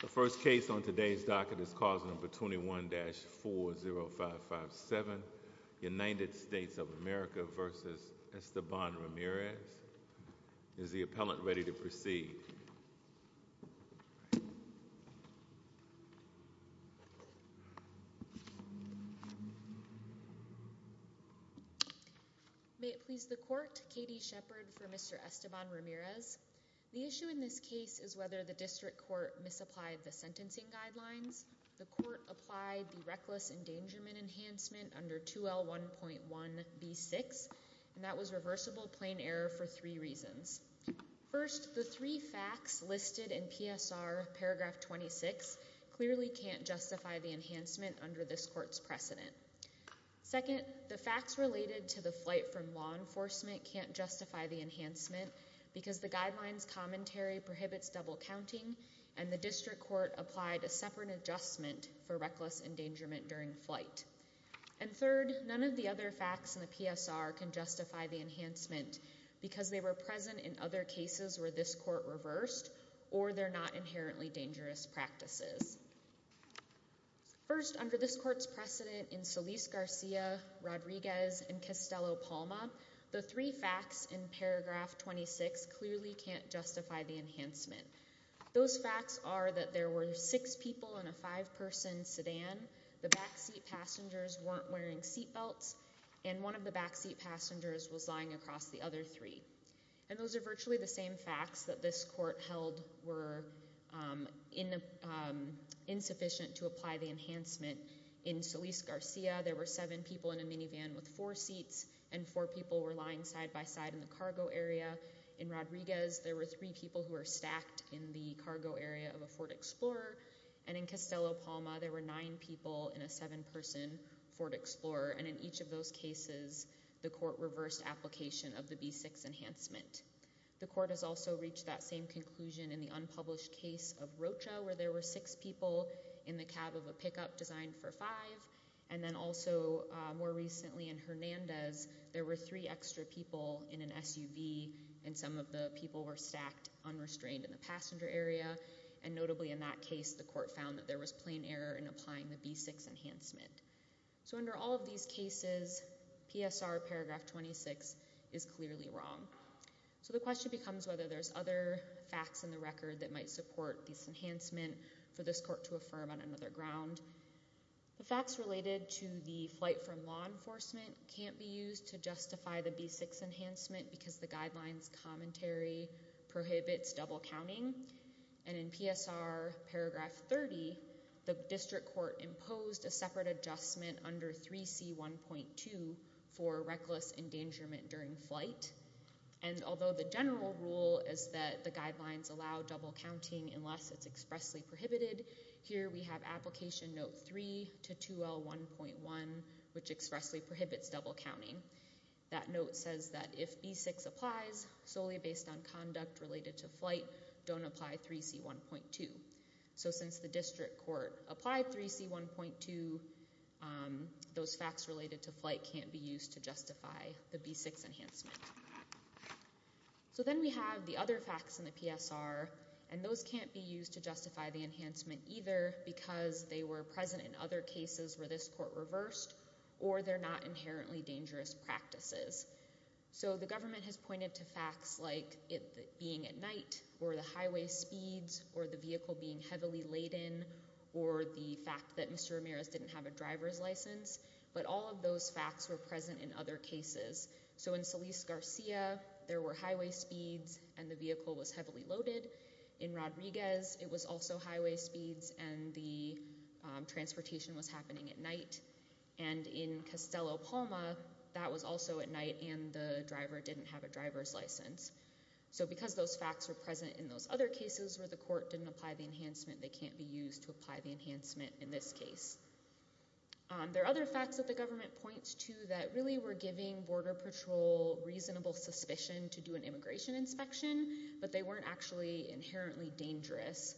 The first case on today's docket is cause number 21-40557, United States of America v. Esteban Ramirez. Is the appellant ready to proceed? May it please the court, Katie Shepard for Mr. Esteban Ramirez. The issue in this case is whether the district court misapplied the sentencing guidelines. The court applied the reckless endangerment enhancement under 2L1.1B6, and that was reversible plane error for three reasons. First, the three facts listed in PSR paragraph 26 clearly can't justify the enhancement under this court's precedent. Second, the facts related to the flight from law enforcement can't justify the enhancement because the guidelines commentary prohibits double counting, and the district court applied a separate adjustment for reckless endangerment during flight. And third, none of the other facts in the PSR can justify the enhancement because they were present in other cases where this court reversed or they're not inherently dangerous practices. First, under this court's precedent in Solis Garcia, Rodriguez, and Castello-Palma, the three facts in paragraph 26 clearly can't justify the enhancement. Those facts are that there were six people in a five-person sedan, the backseat passengers weren't wearing seatbelts, and one of the backseat passengers was lying across the other three. And those are virtually the same facts that this court held were insufficient to apply the enhancement in Solis Garcia. There were seven people in a minivan with four seats, and four people were lying side by side in the cargo area. In Rodriguez, there were three people who were stacked in the cargo area of a Ford Explorer, and in Castello-Palma, there were nine people in a seven-person Ford Explorer, and in each of those cases, the court reversed application of the B6 enhancement. The court has also reached that same conclusion in the unpublished case of Rocha, where there were six people in the cab of a pickup designed for five, and then also more recently in Hernandez, there were three extra people in an SUV, and some of the people were stacked unrestrained in the passenger area, and notably in that case, the court found that there was plain error in applying the B6 enhancement. So under all of these cases, PSR paragraph 26 is clearly wrong. So the question becomes whether there's other facts in the record that might support this enhancement for this court to affirm on another ground. The facts related to the flight from law enforcement can't be used to justify the B6 enhancement because the guidelines commentary prohibits double counting, and in PSR paragraph 30, the district court imposed a separate adjustment under 3C1.2 for reckless endangerment during flight, and although the general rule is that the guidelines allow double counting unless it's expressly prohibited, here we have application note 3 to 2L1.1, which expressly prohibits double counting. That note says that if B6 applies solely based on conduct related to flight, don't apply 3C1.2. So since the district court applied 3C1.2, those facts related to flight can't be used to justify the B6 enhancement. So then we have the other facts in the PSR, and those can't be used to justify the enhancement either because they were present in other cases where this court reversed, or they're not inherently dangerous practices. So the government has pointed to facts like it being at night, or the highway speeds, or the vehicle being heavily laden, or the fact that Mr. Ramirez didn't have a driver's license, but all of those facts were present in other cases. So in Solis-Garcia, there were highway speeds and the vehicle was heavily loaded. In Rodriguez, it was also highway speeds and the transportation was happening at night. And in Costello-Palma, that was also at night and the driver didn't have a driver's license. So because those facts were present in those other cases where the court didn't apply the enhancement, they can't be used to apply the enhancement in this case. There are other facts that the government points to that really were giving Border Patrol reasonable suspicion to do an immigration inspection, but they weren't actually inherently dangerous.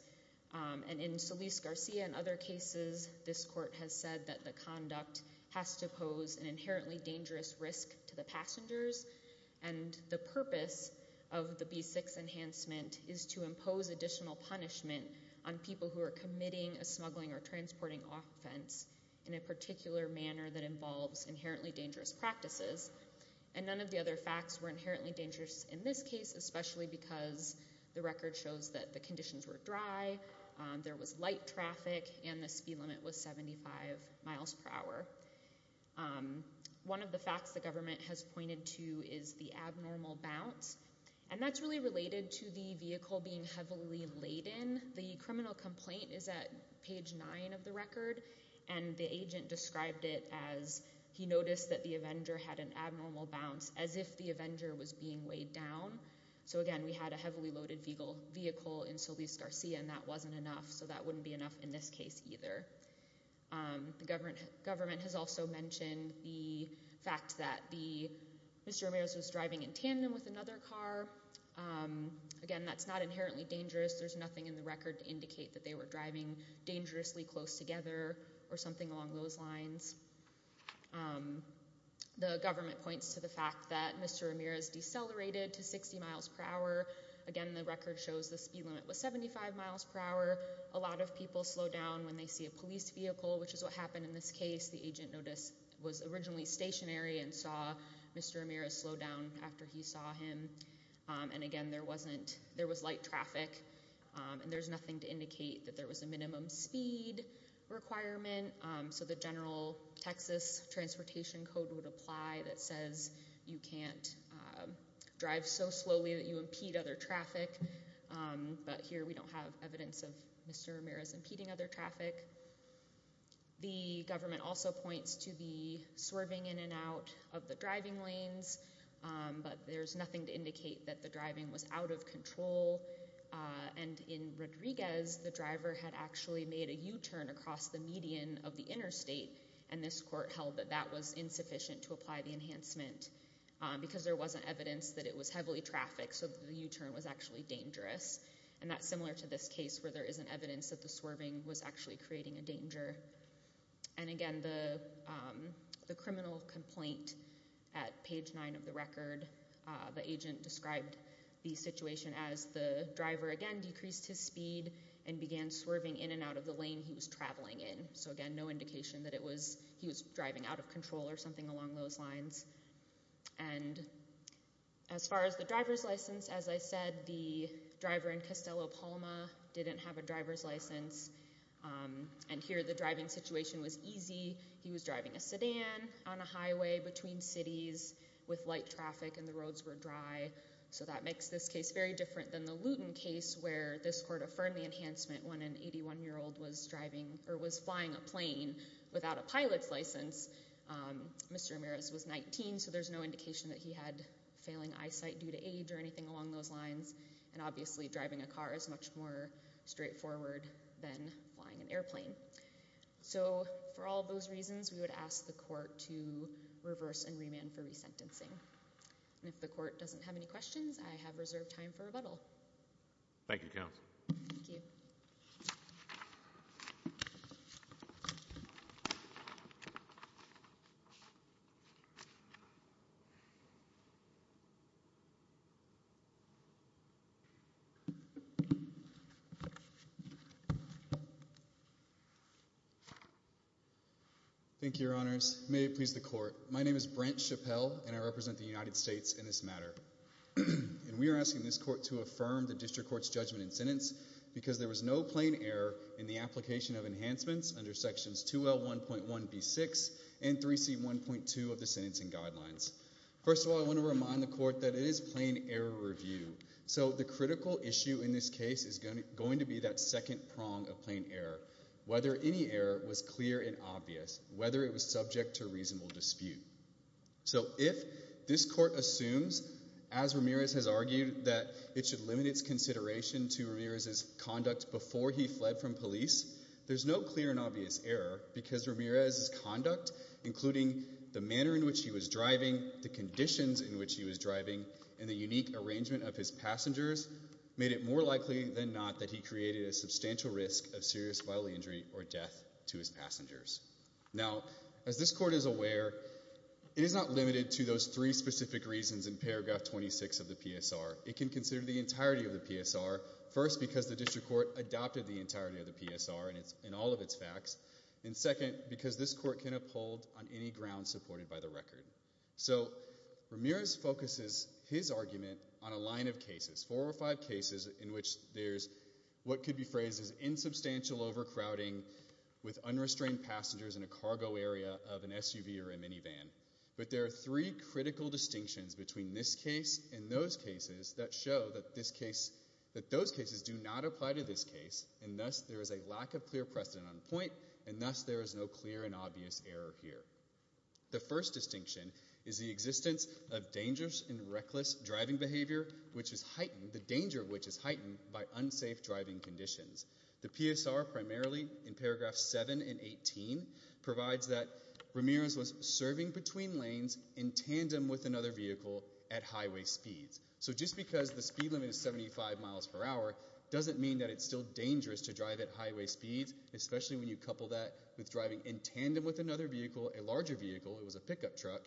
And in Solis-Garcia and other cases, this court has said that the conduct has to pose an inherently dangerous risk to the passengers. And the purpose of the B6 enhancement is to impose additional punishment on people who are committing a smuggling or transporting offense in a particular manner that involves inherently dangerous practices. And none of the other facts were inherently dangerous in this case, especially because the record shows that the conditions were dry, there was light traffic, and the speed limit was 75 miles per hour. One of the facts the government has pointed to is the abnormal bounce. And that's really related to the vehicle being heavily laden. The criminal complaint is at page 9 of the record, and the agent described it as he noticed that the Avenger had an abnormal bounce, as if the Avenger was being weighed down. So again, we had a heavily loaded vehicle in Solis-Garcia, and that wasn't enough. So that wouldn't be enough in this case either. The government has also mentioned the fact that Mr. Ramirez was driving in tandem with another car. Again, that's not inherently dangerous. There's nothing in the record to indicate that they were driving dangerously close together or something along those lines. The government points to the fact that Mr. Ramirez decelerated to 60 miles per hour. Again, the record shows the speed limit was 75 miles per hour. A lot of people slow down when they see a police vehicle, which is what happened in this case. The agent was originally stationary and saw Mr. Ramirez slow down after he saw him. And again, there was light traffic, and there's nothing to indicate that there was a minimum speed requirement. So the general Texas transportation code would apply that says you can't drive so slowly that you impede other traffic, but here we don't have evidence of Mr. Ramirez impeding other traffic. The government also points to the swerving in and out of the driving lanes, but there's nothing to indicate that the driving was out of control. And in Rodriguez, the driver had actually made a U-turn across the median of the interstate, and this court held that that was insufficient to apply the enhancement because there wasn't evidence that it was heavily trafficked, so the U-turn was actually dangerous. And that's similar to this case where there isn't evidence that the swerving was actually creating a danger. And again, the criminal complaint at page 9 of the record, the agent described the situation as the driver again decreased his speed and began swerving in and out of the lane he was traveling in. So again, no indication that he was driving out of control or something along those lines. And as far as the driver's license, as I said, the driver in Costello, Palma didn't have a driver's license. And here the driving situation was easy. He was driving a sedan on a highway between cities with light traffic and the roads were dry. So that makes this case very different than the Luton case where this court affirmed the enhancement when an 81-year-old was driving or was flying a plane without a pilot's license. Mr. Ramirez was 19, so there's no indication that he had failing eyesight due to age or anything along those lines. And obviously driving a car is much more straightforward than flying an airplane. So for all those reasons, we would ask the court to reverse and remand for resentencing. And if the court doesn't have any questions, I have reserved time for rebuttal. Thank you, counsel. Thank you. Thank you, Your Honors. May it please the court. My name is Brent Chappell, and I represent the United States in this matter. And we are asking this court to affirm the district court's judgment and sentence because there was no plane error in the application of enhancements under sections 2L1.1B6 and 3C1.2 of the sentencing guidelines. First of all, I want to remind the court that it is plane error review. So the critical issue in this case is going to be that second prong of plane error, whether any error was clear and obvious, whether it was subject to a reasonable dispute. So if this court assumes, as Ramirez has argued, that it should limit its consideration to Ramirez's conduct before he fled from police, there's no clear and obvious error because Ramirez's conduct, including the manner in which he was driving, the conditions in which he was driving, and the unique arrangement of his passengers, made it more likely than not that he created a substantial risk of serious vital injury or death to his passengers. Now, as this court is aware, it is not limited to those three specific reasons in paragraph 26 of the PSR. It can consider the entirety of the PSR, first, because the district court adopted the entirety of the PSR in all of its facts, and second, because this court can uphold on any ground supported by the record. So Ramirez focuses his argument on a line of cases, four or five cases, in which there's what could be phrased as insubstantial overcrowding with unrestrained passengers in a cargo area of an SUV or a minivan, but there are three critical distinctions between this case and those cases that show that those cases do not apply to this case, and thus there is a lack of clear precedent on point, and thus there is no clear and obvious error here. The first distinction is the existence of dangerous and reckless driving behavior, which is heightened, the danger of which is heightened by unsafe driving conditions. The PSR, primarily in paragraph 7 and 18, provides that Ramirez was serving between lanes in tandem with another vehicle at highway speeds. So just because the speed limit is 75 miles per hour doesn't mean that it's still dangerous to drive at highway speeds, especially when you couple that with driving in tandem with another vehicle, a larger vehicle, it was a pickup truck,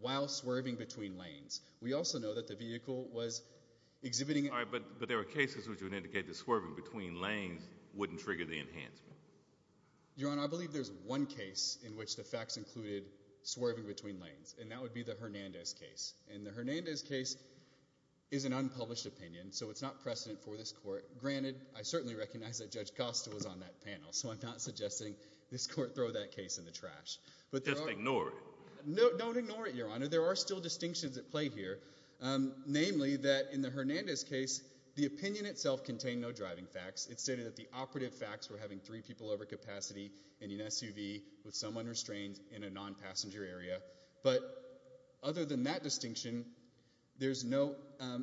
while swerving between lanes. We also know that the vehicle was exhibiting... All right, but there were cases which would indicate that swerving between lanes wouldn't trigger the enhancement. Your Honor, I believe there's one case in which the facts included swerving between lanes, and that would be the Hernandez case, and the Hernandez case is an unpublished opinion, so it's not precedent for this Court. Granted, I certainly recognize that Judge Costa was on that panel, so I'm not suggesting this Court throw that case in the trash. Just ignore it. No, don't ignore it, Your Honor. There are still distinctions at play here, namely that in the Hernandez case, the opinion itself contained no driving facts, it stated that the operative facts were having three people over capacity in an SUV with someone restrained in a non-passenger area, but other than that distinction, there's no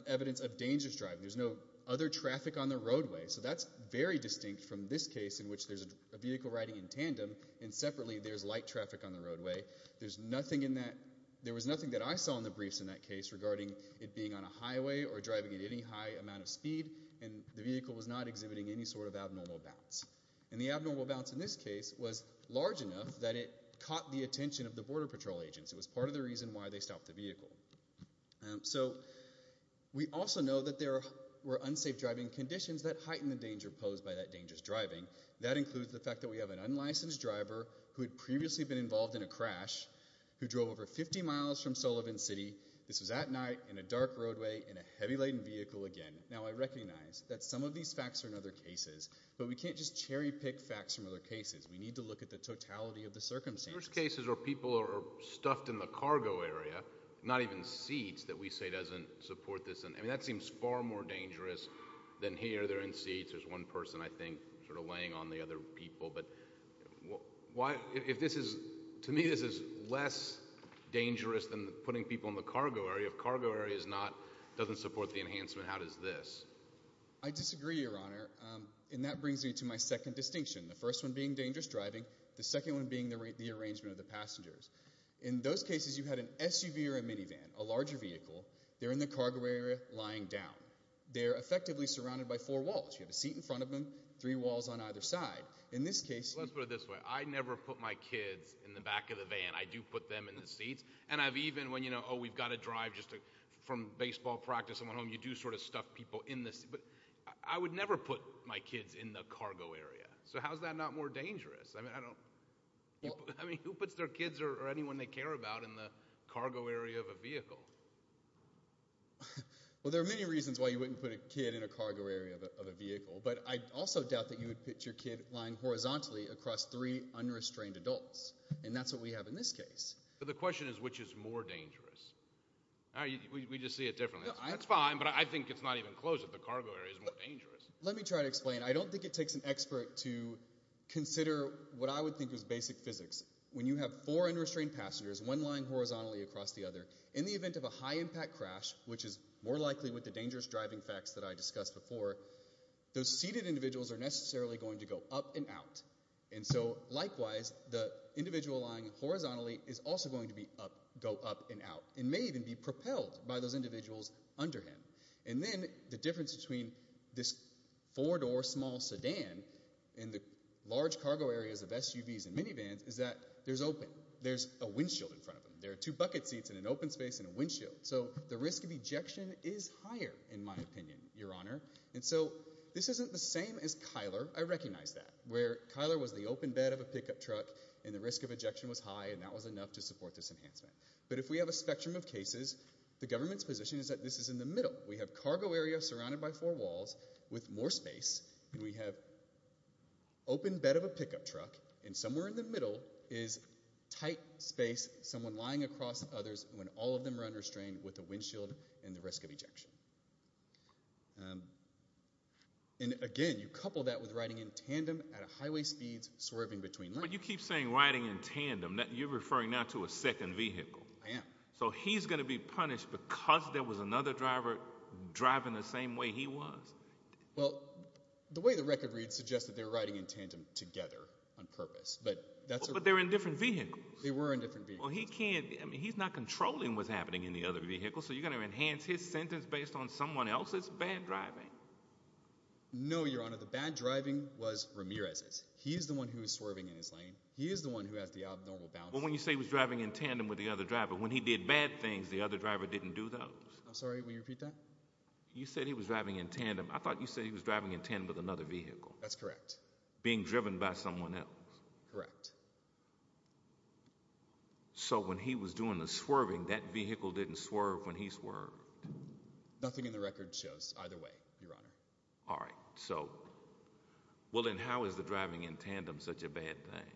evidence of dangerous driving, there's no other traffic on the roadway. So that's very distinct from this case in which there's a vehicle riding in tandem and separately there's light traffic on the roadway. There's nothing in that... There was nothing that I saw in the briefs in that case regarding it being on a highway or driving at any high amount of speed, and the vehicle was not exhibiting any sort of abnormal bounce. And the abnormal bounce in this case was large enough that it caught the attention of the It was part of the reason why they stopped the vehicle. So, we also know that there were unsafe driving conditions that heightened the danger posed by that dangerous driving. That includes the fact that we have an unlicensed driver who had previously been involved in a crash, who drove over 50 miles from Sullivan City, this was at night, in a dark roadway, in a heavy-laden vehicle again. Now I recognize that some of these facts are in other cases, but we can't just cherry-pick facts from other cases, we need to look at the totality of the circumstances. In most cases, people are stuffed in the cargo area, not even seats, that we say doesn't support this. I mean, that seems far more dangerous than here, they're in seats, there's one person I think, sort of laying on the other people, but why, if this is, to me this is less dangerous than putting people in the cargo area. If cargo area is not, doesn't support the enhancement, how does this? I disagree, Your Honor, and that brings me to my second distinction, the first one being the arrangement of the passengers. In those cases, you had an SUV or a minivan, a larger vehicle, they're in the cargo area lying down. They're effectively surrounded by four walls, you have a seat in front of them, three walls on either side. In this case, let's put it this way, I never put my kids in the back of the van, I do put them in the seats, and I've even, when you know, oh we've got to drive just to, from baseball practice, I'm at home, you do sort of stuff people in this, but I would never put my kids in the cargo area. So how's that not more dangerous? I mean, I don't. I mean, who puts their kids or anyone they care about in the cargo area of a vehicle? Well, there are many reasons why you wouldn't put a kid in a cargo area of a vehicle, but I also doubt that you would put your kid lying horizontally across three unrestrained adults, and that's what we have in this case. The question is, which is more dangerous? We just see it differently. That's fine, but I think it's not even close if the cargo area is more dangerous. Let me try to explain. And I don't think it takes an expert to consider what I would think is basic physics. When you have four unrestrained passengers, one lying horizontally across the other, in the event of a high impact crash, which is more likely with the dangerous driving facts that I discussed before, those seated individuals are necessarily going to go up and out. And so, likewise, the individual lying horizontally is also going to go up and out, and may even be propelled by those individuals under him. And then, the difference between this four-door small sedan and the large cargo areas of SUVs and minivans is that there's open. There's a windshield in front of them. There are two bucket seats in an open space and a windshield. So the risk of ejection is higher, in my opinion, Your Honor. And so, this isn't the same as Kyler. I recognize that, where Kyler was the open bed of a pickup truck, and the risk of ejection was high, and that was enough to support this enhancement. But if we have a spectrum of cases, the government's position is that this is in the middle. We have cargo area surrounded by four walls, with more space, and we have open bed of a pickup truck, and somewhere in the middle is tight space, someone lying across others, when all of them are unrestrained, with a windshield, and the risk of ejection. And, again, you couple that with riding in tandem at highway speeds, swerving between lanes. But you keep saying riding in tandem. You're referring now to a second vehicle. I am. So he's going to be punished because there was another driver driving the same way he was. Well, the way the record reads suggests that they're riding in tandem together, on purpose. But they're in different vehicles. They were in different vehicles. Well, he can't. I mean, he's not controlling what's happening in the other vehicle, so you're going to enhance his sentence based on someone else's bad driving? No, Your Honor, the bad driving was Ramirez's. He's the one who was swerving in his lane. He is the one who has the abnormal boundaries. Well, when you say he was driving in tandem with the other driver, when he did bad things, the other driver didn't do those. I'm sorry, will you repeat that? You said he was driving in tandem. I thought you said he was driving in tandem with another vehicle. That's correct. Being driven by someone else. Correct. So when he was doing the swerving, that vehicle didn't swerve when he swerved? Nothing in the record shows either way, Your Honor. All right. So, well then, how is the driving in tandem such a bad thing?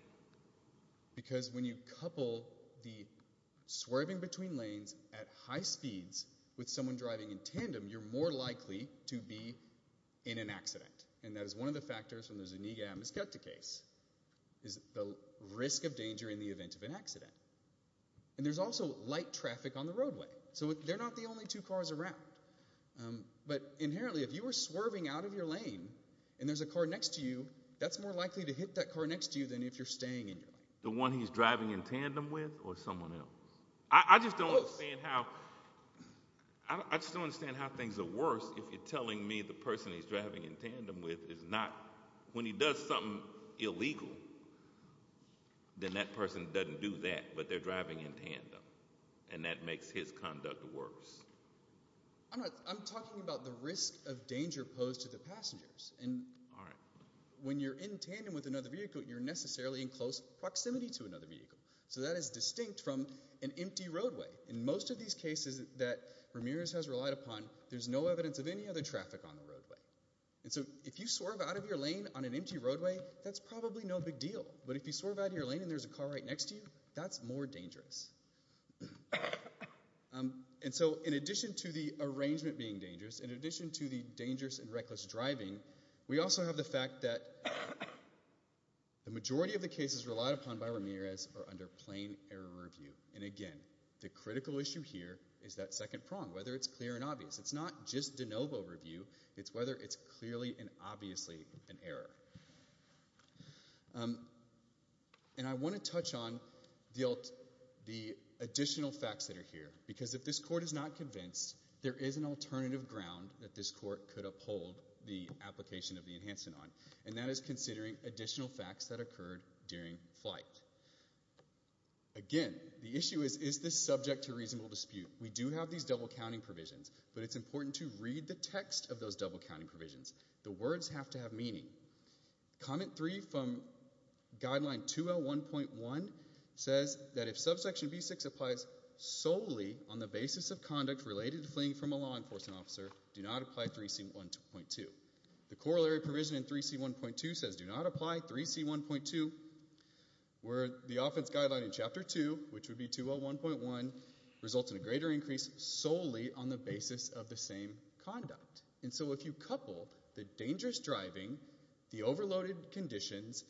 Because when you couple the swerving between lanes at high speeds with someone driving in tandem, you're more likely to be in an accident. And that is one of the factors from the Zuniga-Amezketa case, is the risk of danger in the event of an accident. And there's also light traffic on the roadway. So they're not the only two cars around. But inherently, if you were swerving out of your lane, and there's a car next to you, that's more likely to hit that car next to you than if you're staying in your lane. The one he's driving in tandem with, or someone else? I just don't understand how things are worse if you're telling me the person he's driving in tandem with is not... When he does something illegal, then that person doesn't do that, but they're driving in tandem. And that makes his conduct worse. I'm talking about the risk of danger posed to the passengers. When you're in tandem with another vehicle, you're necessarily in close proximity to another vehicle. So that is distinct from an empty roadway. In most of these cases that Ramirez has relied upon, there's no evidence of any other traffic on the roadway. And so if you swerve out of your lane on an empty roadway, that's probably no big deal. But if you swerve out of your lane and there's a car right next to you, that's more dangerous. And so in addition to the arrangement being dangerous, in addition to the dangerous and reckless driving, we also have the fact that the majority of the cases relied upon by Ramirez are under plain error review. And again, the critical issue here is that second prong, whether it's clear and obvious. It's not just de novo review. It's whether it's clearly and obviously an error. And I want to touch on the additional facts that are here. Because if this court is not convinced, there is an alternative ground that this court could uphold the application of the enhancement on. And that is considering additional facts that occurred during flight. Again, the issue is, is this subject to reasonable dispute? We do have these double counting provisions. But it's important to read the text of those double counting provisions. The words have to have meaning. Comment three from guideline 201.1 says that if subsection B6 applies solely on the basis of conduct related to fleeing from a law enforcement officer, do not apply 3C1.2. The corollary provision in 3C1.2 says do not apply 3C1.2 where the offense guideline in guideline 201.1 results in a greater increase solely on the basis of the same conduct. And so if you couple the dangerous driving, the overloaded conditions,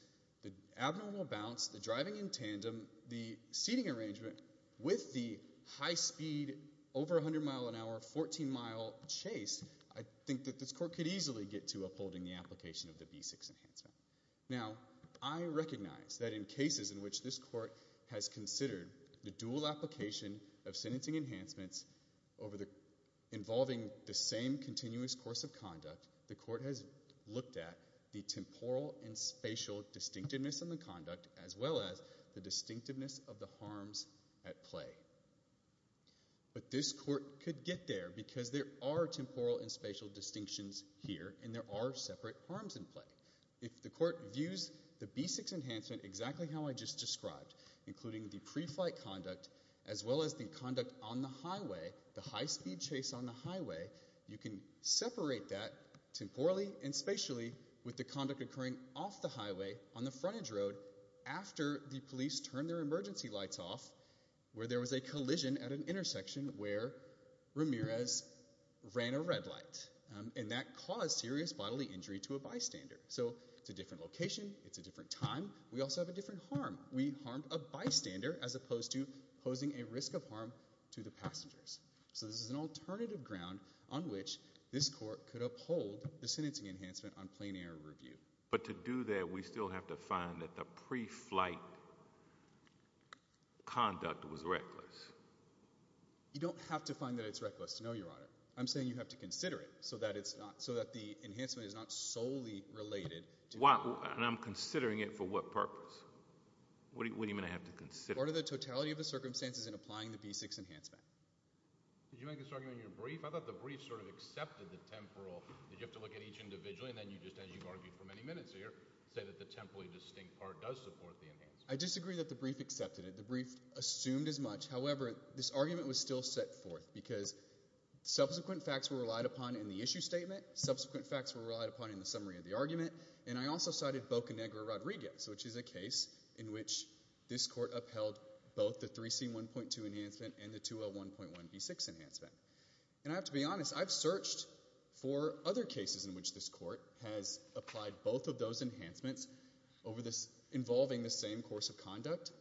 the abnormal bounce, the driving in tandem, the seating arrangement with the high speed over 100 mile an hour, 14 mile chase, I think that this court could easily get to upholding the application of the B6 enhancement. Now, I recognize that in cases in which this court has considered the dual application of sentencing enhancements involving the same continuous course of conduct, the court has looked at the temporal and spatial distinctiveness in the conduct as well as the distinctiveness of the harms at play. But this court could get there because there are temporal and spatial distinctions here and there are separate harms in play. If the court views the B6 enhancement exactly how I just described, including the preflight conduct as well as the conduct on the highway, the high speed chase on the highway, you can separate that temporally and spatially with the conduct occurring off the highway on the frontage road after the police turned their emergency lights off where there was a collision at an intersection where Ramirez ran a red light. And that caused serious bodily injury to a bystander. So it's a different location. It's a different time. We also have a different harm. We harmed a bystander as opposed to posing a risk of harm to the passengers. So this is an alternative ground on which this court could uphold the sentencing enhancement on plain air review. But to do that, we still have to find that the preflight conduct was reckless. You don't have to find that it's reckless to know, Your Honor. I'm saying you have to consider it so that it's not, so that the enhancement is not solely related to. Why? And I'm considering it for what purpose? What do you mean I have to consider it? Part of the totality of the circumstances in applying the B6 enhancement. Did you make this argument in your brief? I thought the brief sort of accepted the temporal that you have to look at each individually and then you just, as you've argued for many minutes here, say that the temporally distinct part does support the enhancement. I disagree that the brief accepted it. The brief assumed as much. However, this argument was still set forth because subsequent facts were relied upon in the issue statement, subsequent facts were relied upon in the summary of the argument, and I also cited Boca Negra Rodriguez, which is a case in which this court upheld both the 3C1.2 enhancement and the 201.1B6 enhancement. And I have to be honest, I've searched for other cases in which this court has applied both of those enhancements over this, involving the same course of conduct,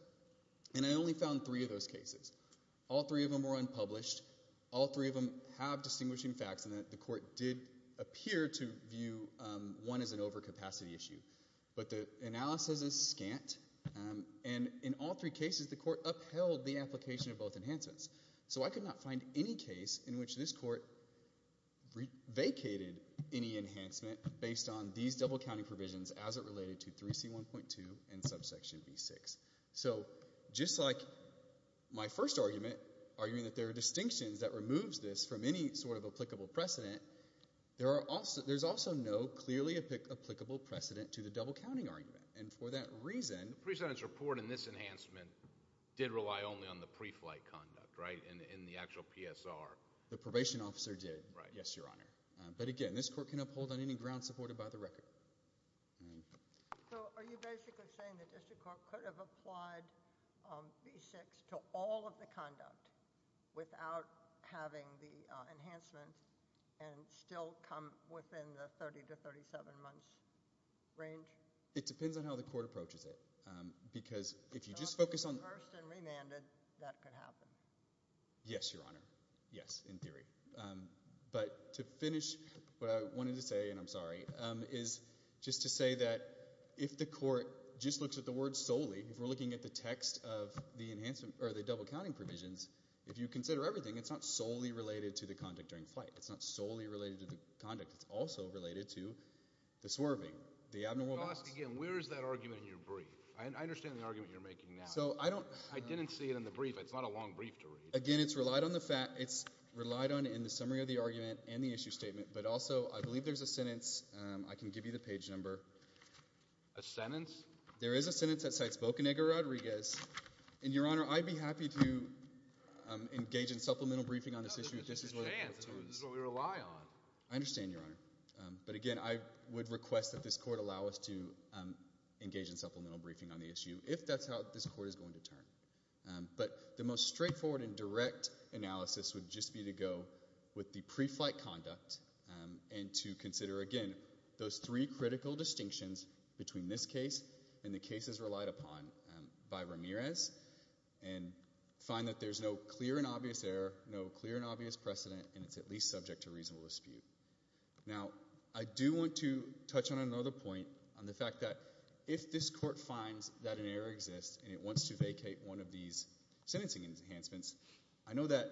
and I only found three of those cases. All three of them were unpublished. All three of them have distinguishing facts and the court did appear to view one as an overcapacity issue. But the analysis is scant, and in all three cases, the court upheld the application of both enhancements. So I could not find any case in which this court vacated any enhancement based on these double counting provisions as it related to 3C1.2 and subsection B6. So just like my first argument, arguing that there are distinctions that removes this from any sort of applicable precedent, there are also, there's also no clearly applicable precedent to the double counting argument. And for that reason. The pre-sentence report in this enhancement did rely only on the pre-flight conduct, right, in the actual PSR. The probation officer did. Right. Yes, Your Honor. But again, this court can uphold on any ground supported by the record. So are you basically saying the district court could have applied B6 to all of the conduct without having the enhancement and still come within the 30 to 37 months range? It depends on how the court approaches it. Because if you just focus on. So if it's reversed and remanded, that could happen. Yes, Your Honor. Yes, in theory. But to finish, what I wanted to say, and I'm sorry, is just to say that if the court just looks at the word solely, if we're looking at the text of the enhancement, or the double counting provisions, if you consider everything, it's not solely related to the conduct during flight. It's not solely related to the conduct. It's also related to the swerving, the abnormal balance. Again, where is that argument in your brief? I understand the argument you're making now. So I don't. I didn't see it in the brief. It's not a long brief to read. Again, it's relied on the fact. It's relied on in the summary of the argument and the issue statement. But also, I believe there's a sentence. I can give you the page number. A sentence? There is a sentence that cites Bocanegra Rodriguez. And Your Honor, I'd be happy to engage in supplemental briefing on this issue. This is what it comes to. This is what we rely on. I understand, Your Honor. But again, I would request that this court allow us to engage in supplemental briefing on the issue, if that's how this court is going to turn. But the most straightforward and direct analysis would just be to go with the pre-flight conduct and to consider, again, those three critical distinctions between this case and the cases relied upon by Ramirez and find that there's no clear and obvious error, no clear and obvious precedent, and it's at least subject to reasonable dispute. Now, I do want to touch on another point on the fact that if this court finds that an error exists and it wants to vacate one of these sentencing enhancements, I know that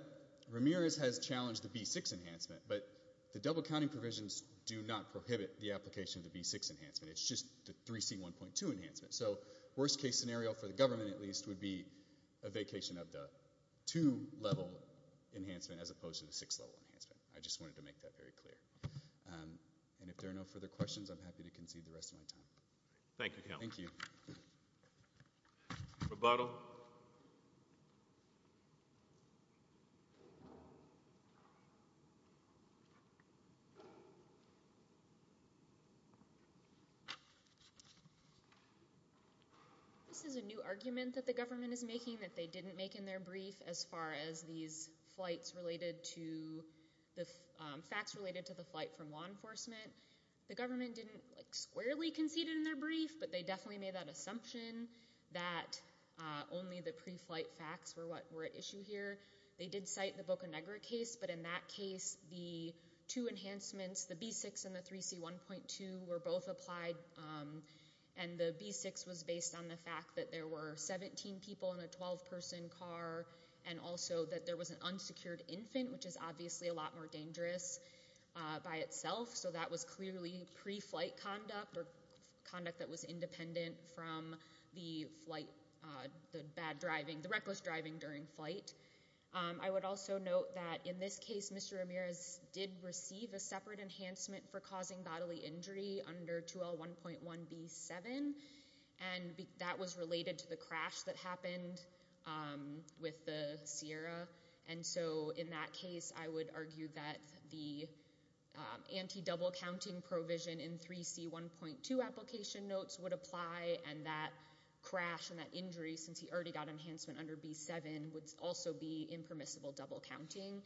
Ramirez has challenged the B6 enhancement. But the double-counting provisions do not prohibit the application of the B6 enhancement. It's just the 3C1.2 enhancement. So worst-case scenario for the government, at least, would be a vacation of the two-level enhancement as opposed to the six-level enhancement. I just wanted to make that very clear. And if there are no further questions, I'm Thank you, Counsel. Thank you. Rebuttal. This is a new argument that the government is making that they didn't make in their brief as far as these flights related to the facts related to the flight from law enforcement. The government didn't squarely concede in their brief, but they definitely made that assumption that only the pre-flight facts were at issue here. They did cite the Boca Negra case. But in that case, the two enhancements, the B6 and the 3C1.2, were both applied. And the B6 was based on the fact that there were 17 people in a 12-person car and also that there was an unsecured infant, which is obviously a lot more dangerous by itself. So that was clearly pre-flight conduct or conduct that was independent from the reckless driving during flight. I would also note that in this case, Mr. Ramirez did receive a separate enhancement for causing bodily injury under 2L1.1B7. And that was related to the crash that happened with the Sierra. And so in that case, I would argue that the anti-double-counting provision in 3C1.2 application notes would apply. And that crash and that injury, since he already got enhancement under B7, would also be impermissible double-counting.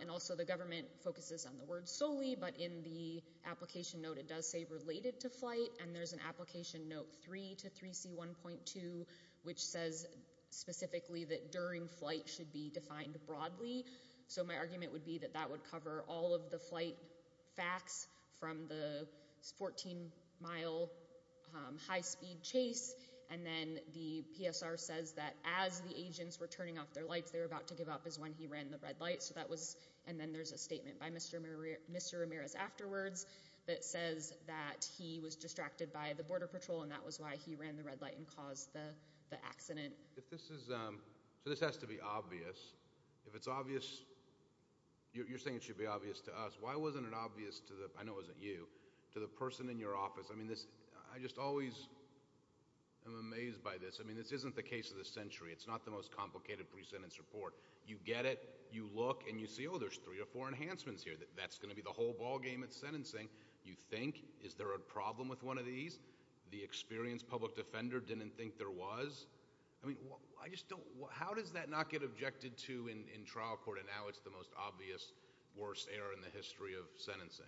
And also, the government focuses on the word solely. But in the application note, it does say related to flight. And there's an application note 3 to 3C1.2, which says specifically that during flight should be defined broadly. So my argument would be that that would cover all of the flight facts from the 14-mile high-speed chase. And then the PSR says that as the agents were turning off their lights, they were about to give up is when he ran the red light. And then there's a statement by Mr. Ramirez afterwards that says that he was distracted by the border patrol. And that was why he ran the red light and caused the accident. So this has to be obvious. If it's obvious, you're saying it should be obvious to us. Why wasn't it obvious to the, I know it wasn't you, to the person in your office? I mean, I just always am amazed by this. I mean, this isn't the case of the century. It's not the most complicated pre-sentence report. You get it. You look. And you see, oh, there's three or four enhancements here. That's going to be the whole ballgame at sentencing. You think, is there a problem with one of these? The experienced public defender didn't think there was? I mean, I just don't, how does that not get objected to in trial court? And now it's the most obvious, worst error in the history of sentencing.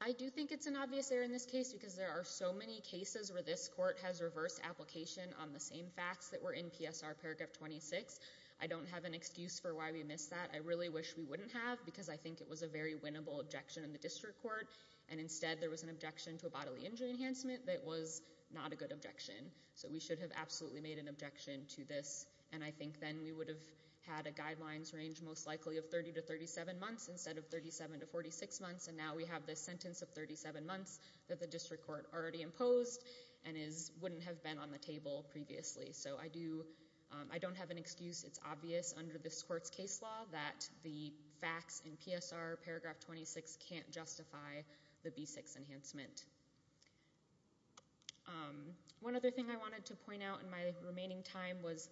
I do think it's an obvious error in this case because there are so many cases where this court has reversed application on the same facts that were in PSR paragraph 26. I don't have an excuse for why we missed that. I really wish we wouldn't have because I think it was a very winnable objection in the district court. And instead, there was an objection to a bodily injury enhancement that was not a good objection. So we should have absolutely made an objection to this. And I think then we would have had a guidelines range most likely of 30 to 37 months instead of 37 to 46 months. And now we have this sentence of 37 months that the district court already imposed and wouldn't have been on the table previously. So I don't have an excuse. It's obvious under this court's case law that the facts in PSR paragraph 26 can't justify the B6 enhancement. One other thing I wanted to point out in my remaining time was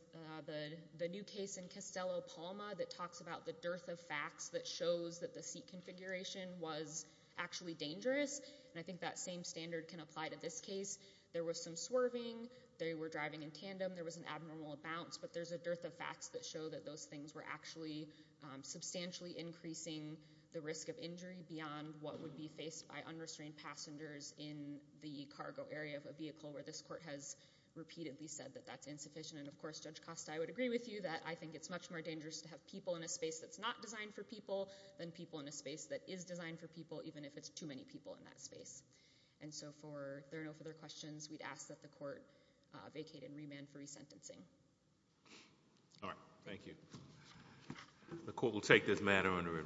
the new case in Costello-Palma that talks about the dearth of facts that shows that the seat configuration was actually dangerous. And I think that same standard can apply to this case. There was some swerving. They were driving in tandem. There was an abnormal bounce. But there's a dearth of facts that show that those things were actually substantially increasing the risk of injury beyond what would be faced by unrestrained passengers in the cargo area of a vehicle where this court has repeatedly said that that's insufficient. And of course, Judge Costa, I would agree with you that I think it's much more dangerous to have people in a space that's not designed for people than people in a space that is designed for people, even if it's too many people in that space. And so for no further questions, we'd ask that the court vacate and remand for resentencing. All right. Thank you. The court will take this matter under review.